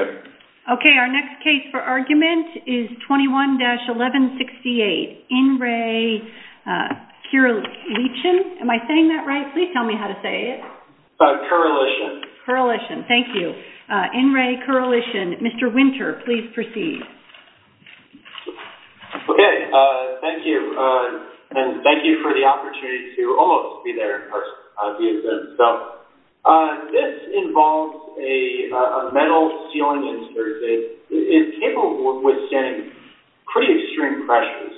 Okay, our next case for argument is 21-1168. In Re Kirilichin. Am I saying that right? Please tell me how to say it. Kirilichin. Kirilichin. Thank you. In Re Kirilichin. Mr. Winter, please proceed. Okay. Thank you. And thank you for the opportunity to almost be there in person. So, this involves a metal ceiling. It's capable of withstanding pretty extreme pressures.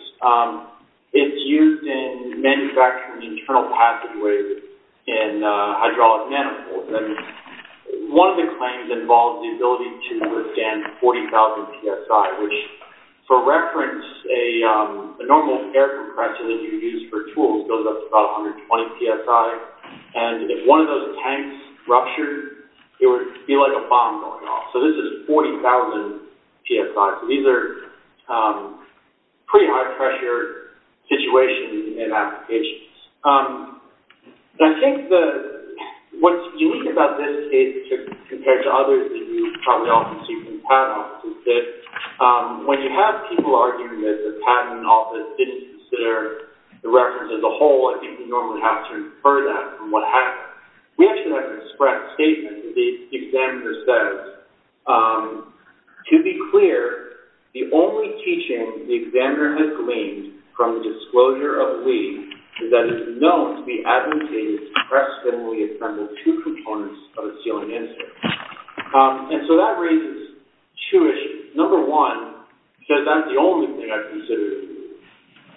It's used in manufacturing internal pathways in hydraulic manifolds. One of the claims involves the ability to withstand 40,000 psi, which for reference, a normal air compressor that you use for tools goes up to about 120 psi. And if one of those tanks ruptured, it would be like a bomb going off. So, this is 40,000 psi. So, these are pretty high pressure situations in applications. I think what's unique about this case compared to others that you probably often see from patent offices is that when you have people arguing that the patent office didn't consider the reference as a whole, I think you normally have to infer that from what happened. We actually have a discrete statement that the examiner says, to be clear, the only teaching the examiner has gleaned from the disclosure of the lead is that it's known to be advocated to press firmly in front of two components of a ceiling insert. And so, that raises two issues. Number one, says that's the only thing I've considered.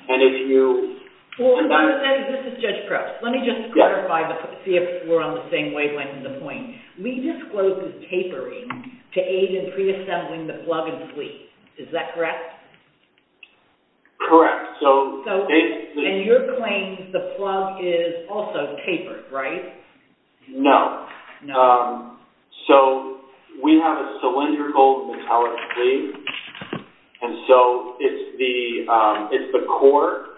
And if you... This is Judge Krause. Let me just clarify to see if we're on the same wavelength of the point. We disclosed the tapering to aid in pre-assembling the plug and sleeve. Is that correct? Correct. So... And you're claiming the plug is also tapered, right? No. So, we have a cylindrical metallic sleeve. And so, it's the core.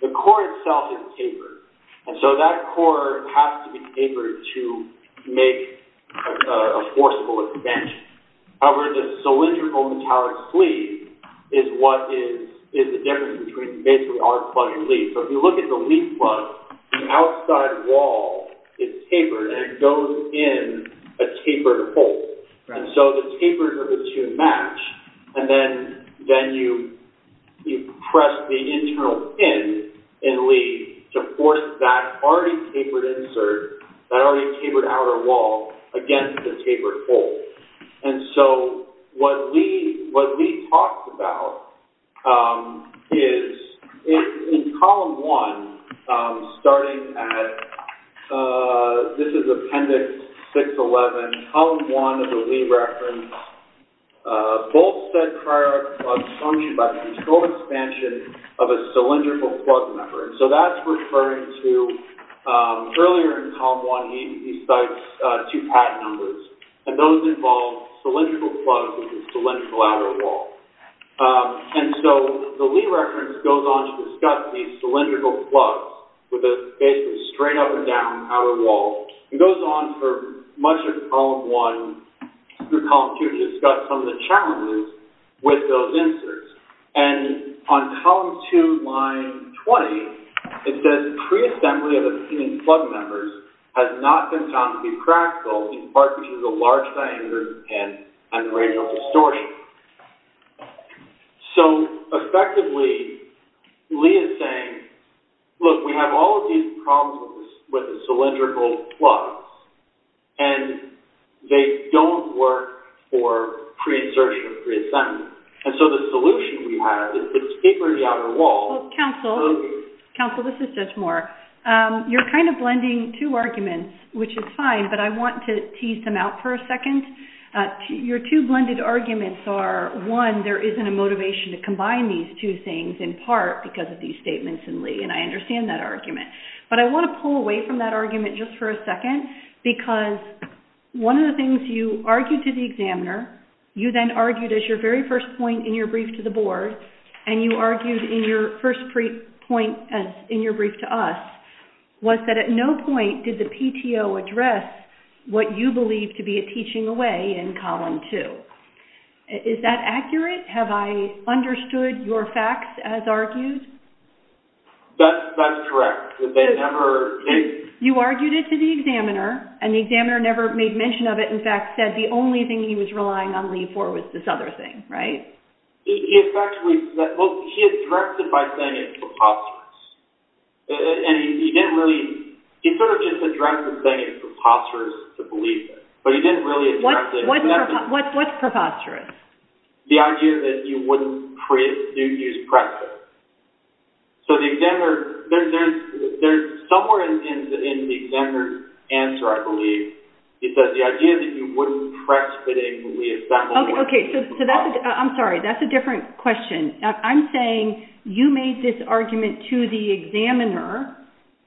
The core itself is tapered. And so, that core has to be tapered to make a forcible extension. However, the cylindrical plug sleeve. So, if you look at the lead plug, the outside wall is tapered and it goes in a tapered hole. And so, the tapers are to match. And then, you press the internal pin in lead to force that already tapered insert, that already tapered outer wall against the tapered hole. And so, what Lee talks about is, in column one, starting at... This is appendix 611. Column one of the Lee reference, both said prior plugs function by control expansion of a cylindrical plug membrane. So, that's referring to... Earlier in column one, he cites two patent numbers. And those involve cylindrical plugs with a cylindrical outer wall. And so, the Lee reference goes on to discuss these cylindrical plugs with a basically straight up and down outer wall. It goes on for much of column one through column two to discuss some of the challenges with those inserts. And on column two, line 20, it says pre-assembly of the pre-assembly. It's not been found to be practical, in part because of the large diameter and radial distortion. So, effectively, Lee is saying, look, we have all of these problems with the cylindrical plugs and they don't work for pre-assertion, pre-assembly. And so, the solution we have is to put a tapered outer wall... Counsel, this is Judge Moore. You're kind of making two arguments, which is fine, but I want to tease them out for a second. Your two blended arguments are, one, there isn't a motivation to combine these two things, in part because of these statements in Lee. And I understand that argument. But I want to pull away from that argument just for a second because one of the things you argued to the examiner, you then argued as your very first point in your brief to the board, and you argued in your first point in your brief to us, was that at no point did the PTO address what you believe to be a teaching away in Column 2. Is that accurate? Have I understood your facts as argued? That's correct. You argued it to the examiner, and the examiner never made mention of it. In fact, said the only thing he was relying on Lee for was this other thing, right? He addressed it by saying it's preposterous to believe it, but he didn't really address it. What's preposterous? The idea that you wouldn't use preface. So the examiner, there's somewhere in the examiner's answer, I believe, it says the idea that you wouldn't preface it. Okay. I'm sorry. That's a preface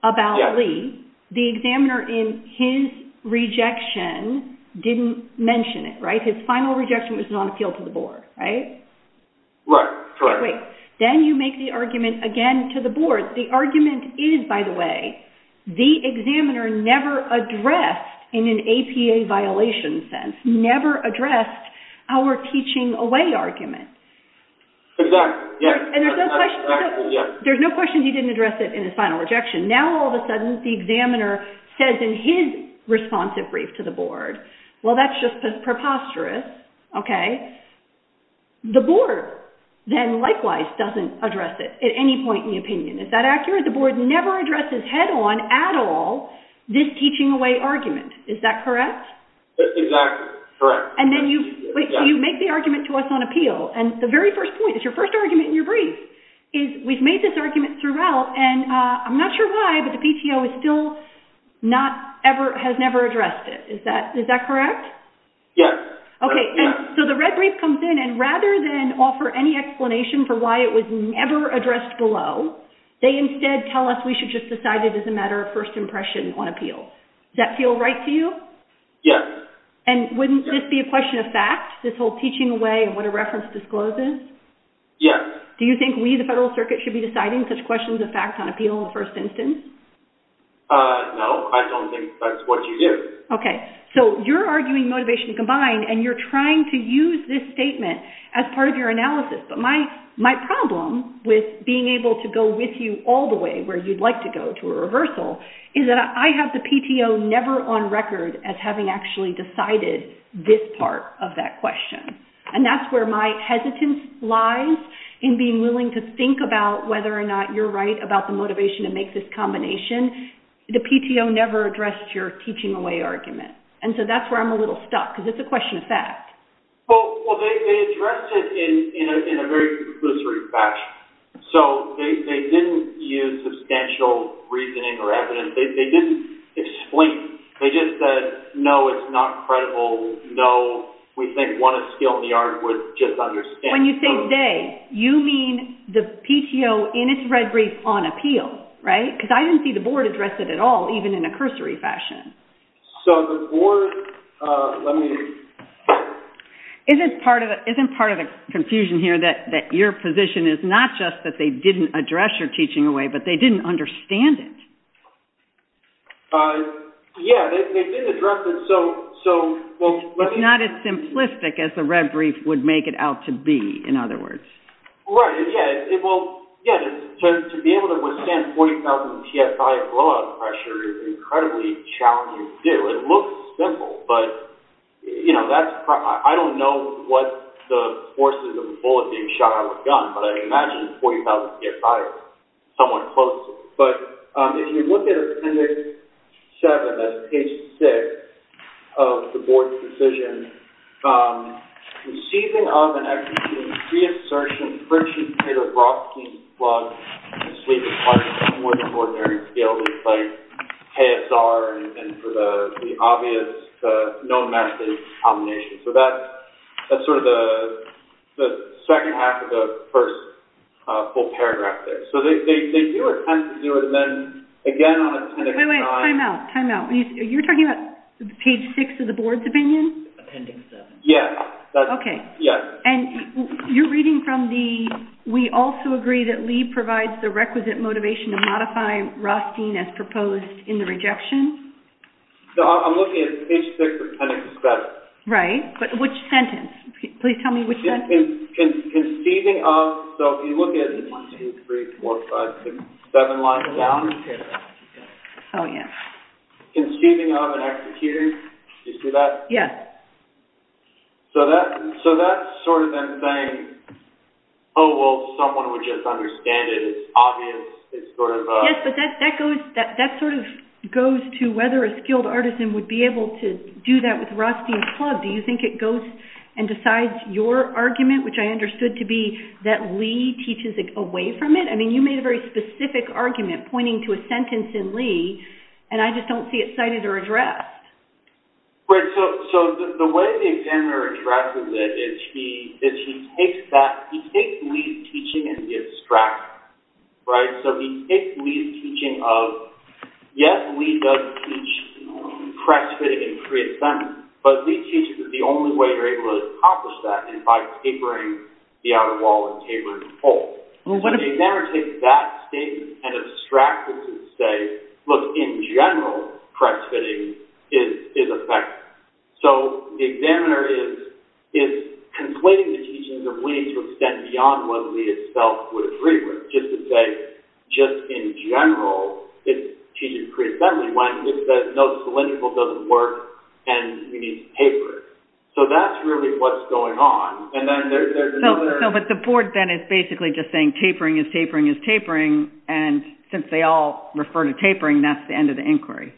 about Lee. The examiner in his rejection didn't mention it, right? His final rejection was non-appeal to the board, right? Right. Correct. Then you make the argument again to the board. The argument is, by the way, the examiner never addressed in an APA violation sense, never addressed our teaching away argument. Exactly. Yes. There's no question he didn't address it in his final rejection. Now, all of a sudden, the examiner says in his responsive brief to the board, well, that's just preposterous. Okay. The board then likewise doesn't address it at any point in the opinion. Is that accurate? The board never addresses head-on at all this teaching away argument. Is that correct? Exactly. Correct. Then you make the argument to us on appeal. The very first point, it's your first argument in your brief, is we've made this and I'm not sure why, but the PTO still has never addressed it. Is that correct? Yes. Okay. The red brief comes in and rather than offer any explanation for why it was never addressed below, they instead tell us we should just decide it as a matter of first impression on appeal. Does that feel right to you? Yes. Wouldn't this be a question of fact, this whole teaching away and what a reference discloses? Yes. Do you think we, the federal the fact on appeal in the first instance? No. I don't think that's what you do. Okay. You're arguing motivation combined and you're trying to use this statement as part of your analysis, but my problem with being able to go with you all the way where you'd like to go to a reversal is that I have the PTO never on record as having actually decided this part of that question. That's where my hesitance lies in being willing to think about whether or not you're right about the motivation to make this combination. The PTO never addressed your teaching away argument. That's where I'm a little stuck because it's a question of fact. Well, they addressed it in a very lucid fashion. They didn't use substantial reasoning or evidence. They didn't explain. They just said, no, it's not credible. No, we think one of skill in the on appeal, right? Because I didn't see the board address it at all, even in a cursory fashion. So the board, let me... Isn't part of the confusion here that your position is not just that they didn't address your teaching away, but they didn't understand it. Yeah, they did address it. So, well... It's not as simplistic as the red brief would make it out to be, in other words. Right. Yeah. Well, yeah. To be able to withstand 40,000 PSI blowout pressure is incredibly challenging to do. It looks simple, but that's... I don't know what the forces of bullet being shot out of a gun, but I imagine 40,000 PSI is somewhat close. But if you look at appendix seven, that's page six of the board's decision, conceiving of and executing pre-assertion, French and Peter Brodsky's blood and sleep is quite more than ordinary to be able to play KSR and for the obvious, no method combination. So that's sort of the second half of the first full paragraph there. So they do attempt to do it, and then again on appendix five... Wait, wait. Time out. Time out. You're talking about page six of the board's opinion? Appendix seven. Yeah. That's... Okay. Yeah. And you're reading from the... We also agree that Lee provides the requisite motivation to modify Rothstein as proposed in the rejection. So I'm looking at page six, appendix seven. Right. But which sentence? Please tell me which sentence. Conceiving of... So if you look at one, two, three, four, five, six, seven lines down... Oh, yeah. Conceiving of and executing. Do you see that? Yeah. So that's sort of them saying, oh, well, someone would just understand it. It's obvious. It's sort of... Yes, but that sort of goes to whether a skilled artisan would be able to do that with Rothstein's argument, which I understood to be that Lee teaches away from it. I mean, you made a very specific argument pointing to a sentence in Lee, and I just don't see it cited or addressed. Right. So the way the examiner addresses it is he takes that... He takes Lee's teaching and he extracts it, right? So he takes Lee's teaching of... Yes, Lee does teach press fitting and pre-assembly, but Lee teaches that the only way you're able to accomplish that is by tapering the outer wall and tapering the fold. So the examiner takes that statement and extracts it to say, look, in general, press fitting is effective. So the examiner is conflating the teachings of Lee to extend beyond what Lee itself would agree with, just to say, just in general, he teaches pre-assembly when he says, no, cylindrical doesn't work and you need to taper it. So that's really what's going on. And then there's another... So, but the board then is basically just saying tapering is tapering is tapering. And since they all refer to tapering, that's the end of the inquiry.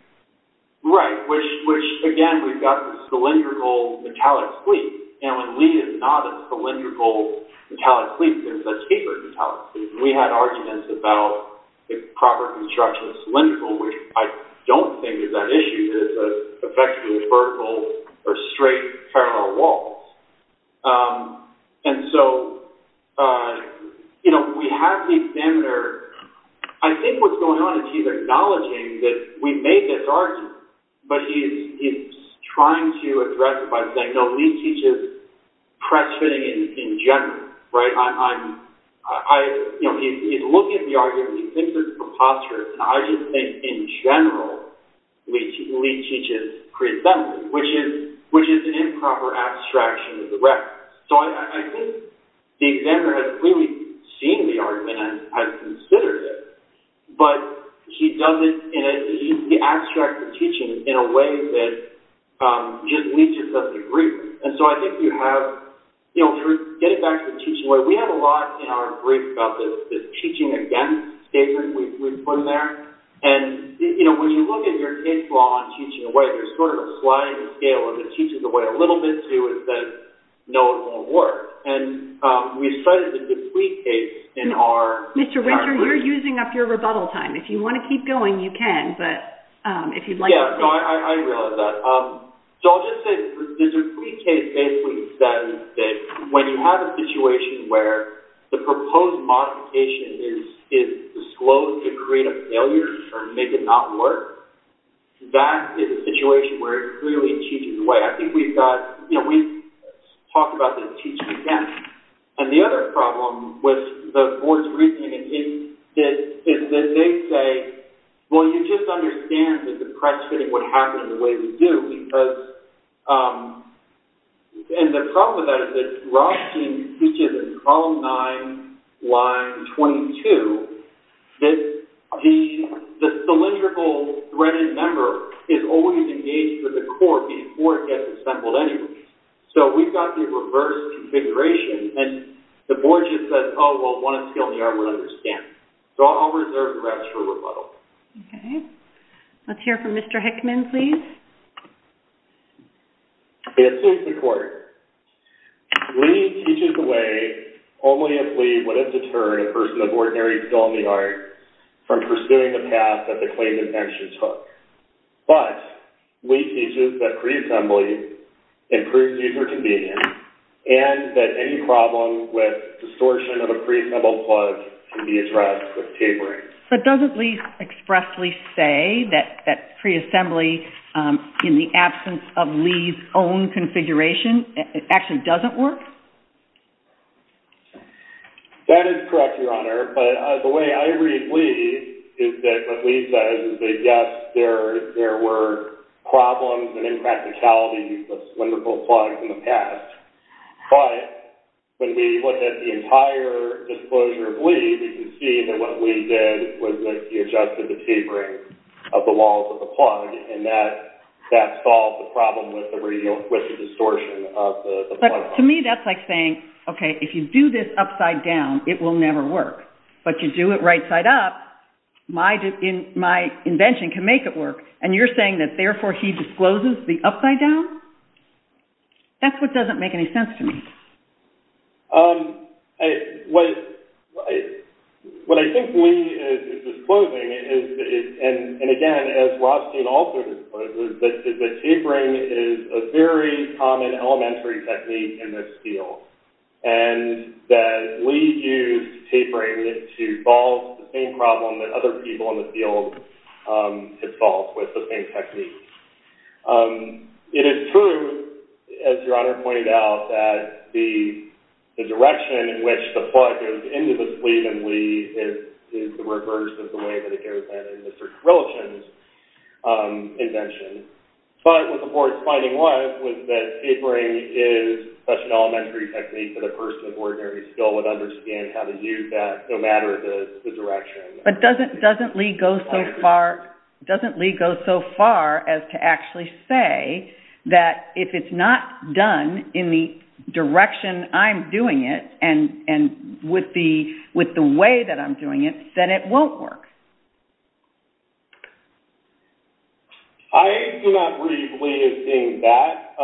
Right. Which, again, we've got the cylindrical metallic cleat. And when Lee is not a cylindrical metallic cleat, it's a tapered metallic cleat. We had arguments about the proper construction of cylindrical, which I don't think is that issue. It's effectively vertical or straight parallel walls. And so we have the examiner... I think what's going on is he's acknowledging that we made this argument, but he's trying to address it by saying, no, Lee teaches press fitting in general, right? He's looking at the argument. He thinks it's preposterous. And I just think in general, Lee teaches pre-assembly, which is an improper abstraction of the reference. So I think the examiner has really seen the argument and has considered it, but he does it in an abstract teaching in a way that Lee just doesn't agree with. And so I think you have... Getting back to the teaching way, we have a lot in our brief about this teaching against statement we've put in there. And when you look at your case law on teaching away, there's sort of a sliding scale of the teaching away. A little bit, too, is that no, it won't work. And we started to deplete case in our... Mr. Winter, you're using up your rebuttal time. If you want to keep going, you can, but if you'd like to... Yeah. No, I realize that. So I'll just say the deplete case basically says that when you have a situation where the proposed modification is disclosed to create a failure or make it not work, that is a situation where it clearly teaches away. I think we've got... We've talked about this teaching again. And the other problem with the board's reasoning is that they say, well, you just understand that the press fitting would happen the way we do because... And the problem with that is that Rothschild teaches in column nine, line 22, that the cylindrical threaded member is always engaged with the court before it gets assembled anyway. So we've got the reverse configuration and the board just says, oh, well, we understand. So I'll reserve the rest for rebuttal. Okay. Let's hear from Mr. Hickman, please. It suits the court. Lee teaches the way only if Lee would have deterred a person of ordinary skill in the art from pursuing the path that the claimant actually took. But Lee teaches that pre-assembly improves user convenience and that any problem with distortion of a pre-assembled plug can be addressed with tapering. But doesn't Lee expressly say that pre-assembly in the absence of Lee's own configuration actually doesn't work? That is correct, Your Honor. But the way I read Lee is that what Lee says is that, yes, there were problems and impracticalities with cylindrical plugs in the past. But when we look at the entire disclosure of Lee, we can see that what Lee did was that he adjusted the tapering of the walls of the plug and that solved the problem with the distortion of the plug. But to me, that's like saying, okay, if you do this upside down, it will never work. But you do it right side up, my invention can make it work. And you're saying that therefore he discloses the upside down? That's what doesn't make any sense to me. What I think Lee is disclosing, and again, as Rothstein also discloses, is that tapering is a very common elementary technique in this field. And that Lee used tapering to solve the same problem that people in the field had solved with the same technique. It is true, as Your Honor pointed out, that the direction in which the plug goes into the sleeve in Lee is the reverse of the way that it goes in Mr. Krilichen's invention. But what the court's finding was, was that tapering is such an elementary technique that a person of ordinary skill would understand how to use that no matter the direction. But doesn't Lee go so far as to actually say that if it's not done in the direction I'm doing it and with the way that I'm doing it, then it won't work? I do not read Lee as being that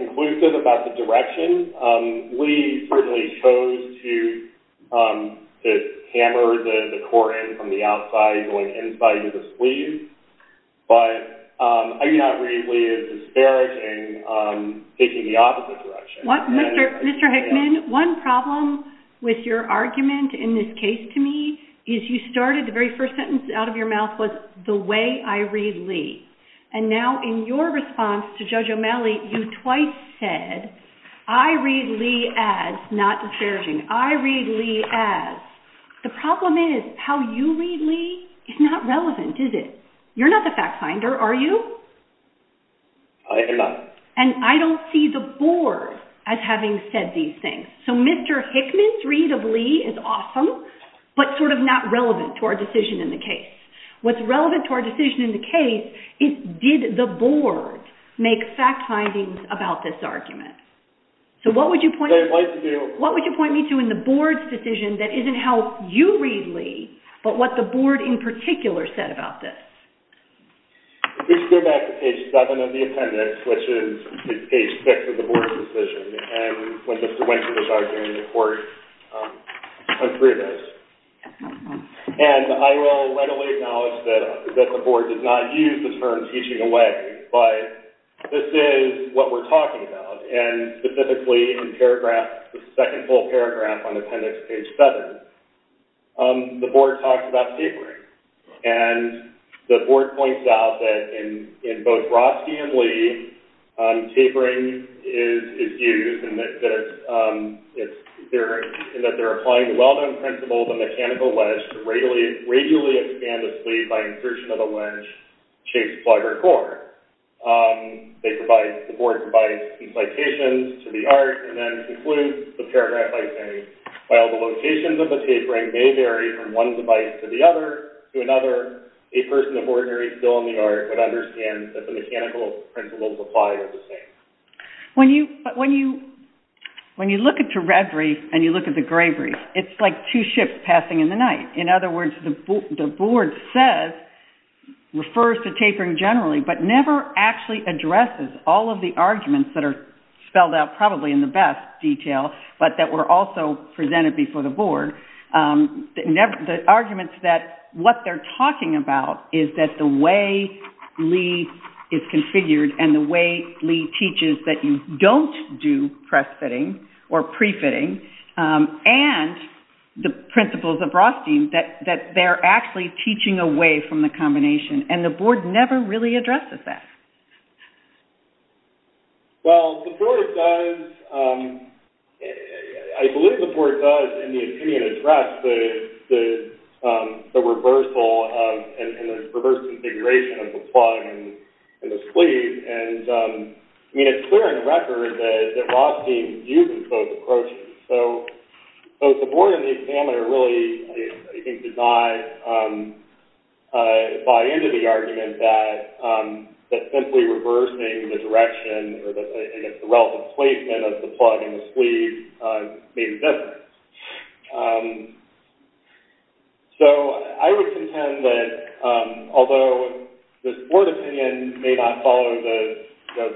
conclusive about the direction. Lee certainly chose to hammer the core in from the outside going inside into the sleeve. But I do not read Lee as disparaging taking the opposite direction. Mr. Hickman, one problem with your argument in this case to me is you started the very first sentence out of your mouth was, the way I read Lee. And now in your response to Judge O'Malley, you twice said, I read Lee as not disparaging. I read Lee as. The problem is how you read Lee is not relevant, is it? You're not the fact finder, are you? I do not. And I don't see the board as having said these things. So Mr. Hickman's read of Lee is awesome, but sort of not relevant to our decision in the case. What's relevant to our decision in the case is, did the board make fact findings about this argument? So what would you point me to in the board's decision that isn't how you read Lee, but what the board in particular said about this? If we go back to page seven of the appendix, which is page six of the board's decision, and when Mr. Wynter was arguing in the court, I'm through this. And I will readily acknowledge that the board did not use the term teaching away, but this is what we're talking about. And specifically in paragraph, the second full paragraph on appendix page seven, the board talks about tapering. And the board points out that in both Roski and Lee, tapering is used in that they're applying a well-known principle of a mechanical wedge to radially expand a sleeve by insertion of a wedge, shape, plug, or core. The board provides some citations to the art and then concludes the paragraph by saying, while the locations of the tapering may vary from one device to the other, to another, a person of ordinary skill in the art would understand that the mechanical principles apply to the same. When you look at the red brief and you look at the gray brief, it's like two ships passing in the night. In other words, the board says, refers to tapering generally, but never actually addresses all of the arguments that are spelled out probably in the best detail, but that were also presented before the board. The arguments that what they're talking about is that the way Lee is configured and the way Lee teaches that you don't do press fitting or pre-fitting and the principles of Roski that they're actually teaching away from the combination. And the board never really addresses that. Well, the board does. I believe the board does, in the opinion addressed the reversal of, and the reverse configuration of the plug and the sleeve. And I mean, it's clear in the record that Roski uses both approaches. So the board and the examiner really, I think, did not buy into the argument that simply reversing the direction or the relative placement of the plug and the sleeve made a difference. So I would contend that although this board opinion may not follow the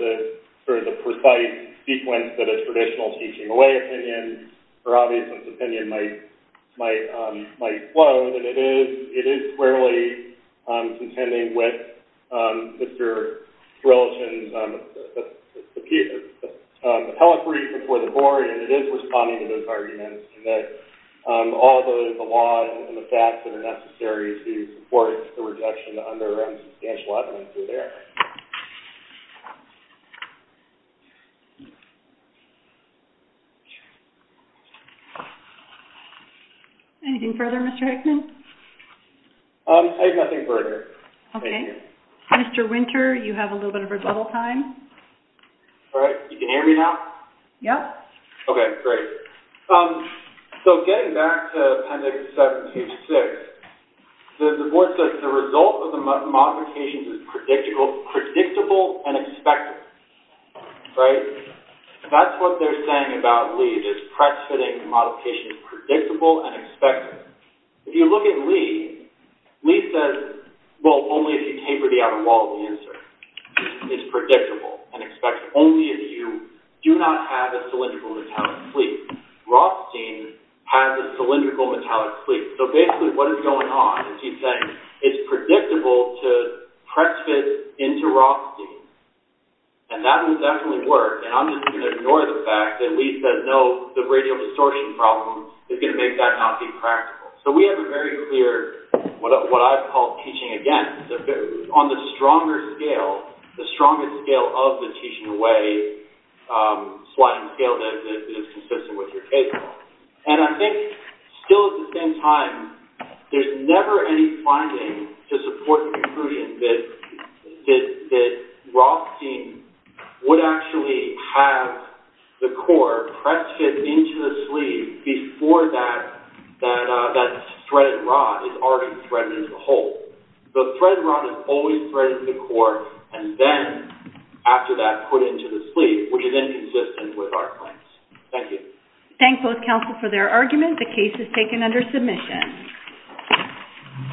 sort of the precise sequence that a traditional teaching away opinion or obviousness opinion might flow, that it is clearly contending with Mr. Drelton's argument that although the law and the facts that are necessary to support the rejection under substantial evidence are there. Anything further, Mr. Hickman? I have nothing further. Okay. Mr. Winter, you have a little bit of rebuttal time. All right. You can hear me now? Yep. Okay. Great. So getting back to Appendix 726, the board says, the result of the modifications is predictable and expected. Right? That's what they're saying about Lee, this press fitting modification is predictable and expected. If you look at Lee, Lee says, well, only if you taper the outer wall of the insert. It's predictable and expects only if you do not have a cylindrical metallic sleeve. Rothstein has a cylindrical metallic sleeve. So basically what is going on is he's saying, it's predictable to press fit into Rothstein. And that would definitely work. And I'm just going to ignore the fact that Lee says, no, the radial distorting problem is going to make that be practical. So we have a very clear, what I call teaching against, on the stronger scale, the stronger scale of the teaching away sliding scale that is consistent with your case. And I think still at the same time, there's never any finding to support the conclusion that Rothstein would actually have the core press fit into the sleeve before that thread rod is already threaded as a whole. The thread rod is always threaded to the core. And then after that, put into the sleeve, which is inconsistent with our claims. Thank you. Thank both counsel for their argument. The case is taken under submission.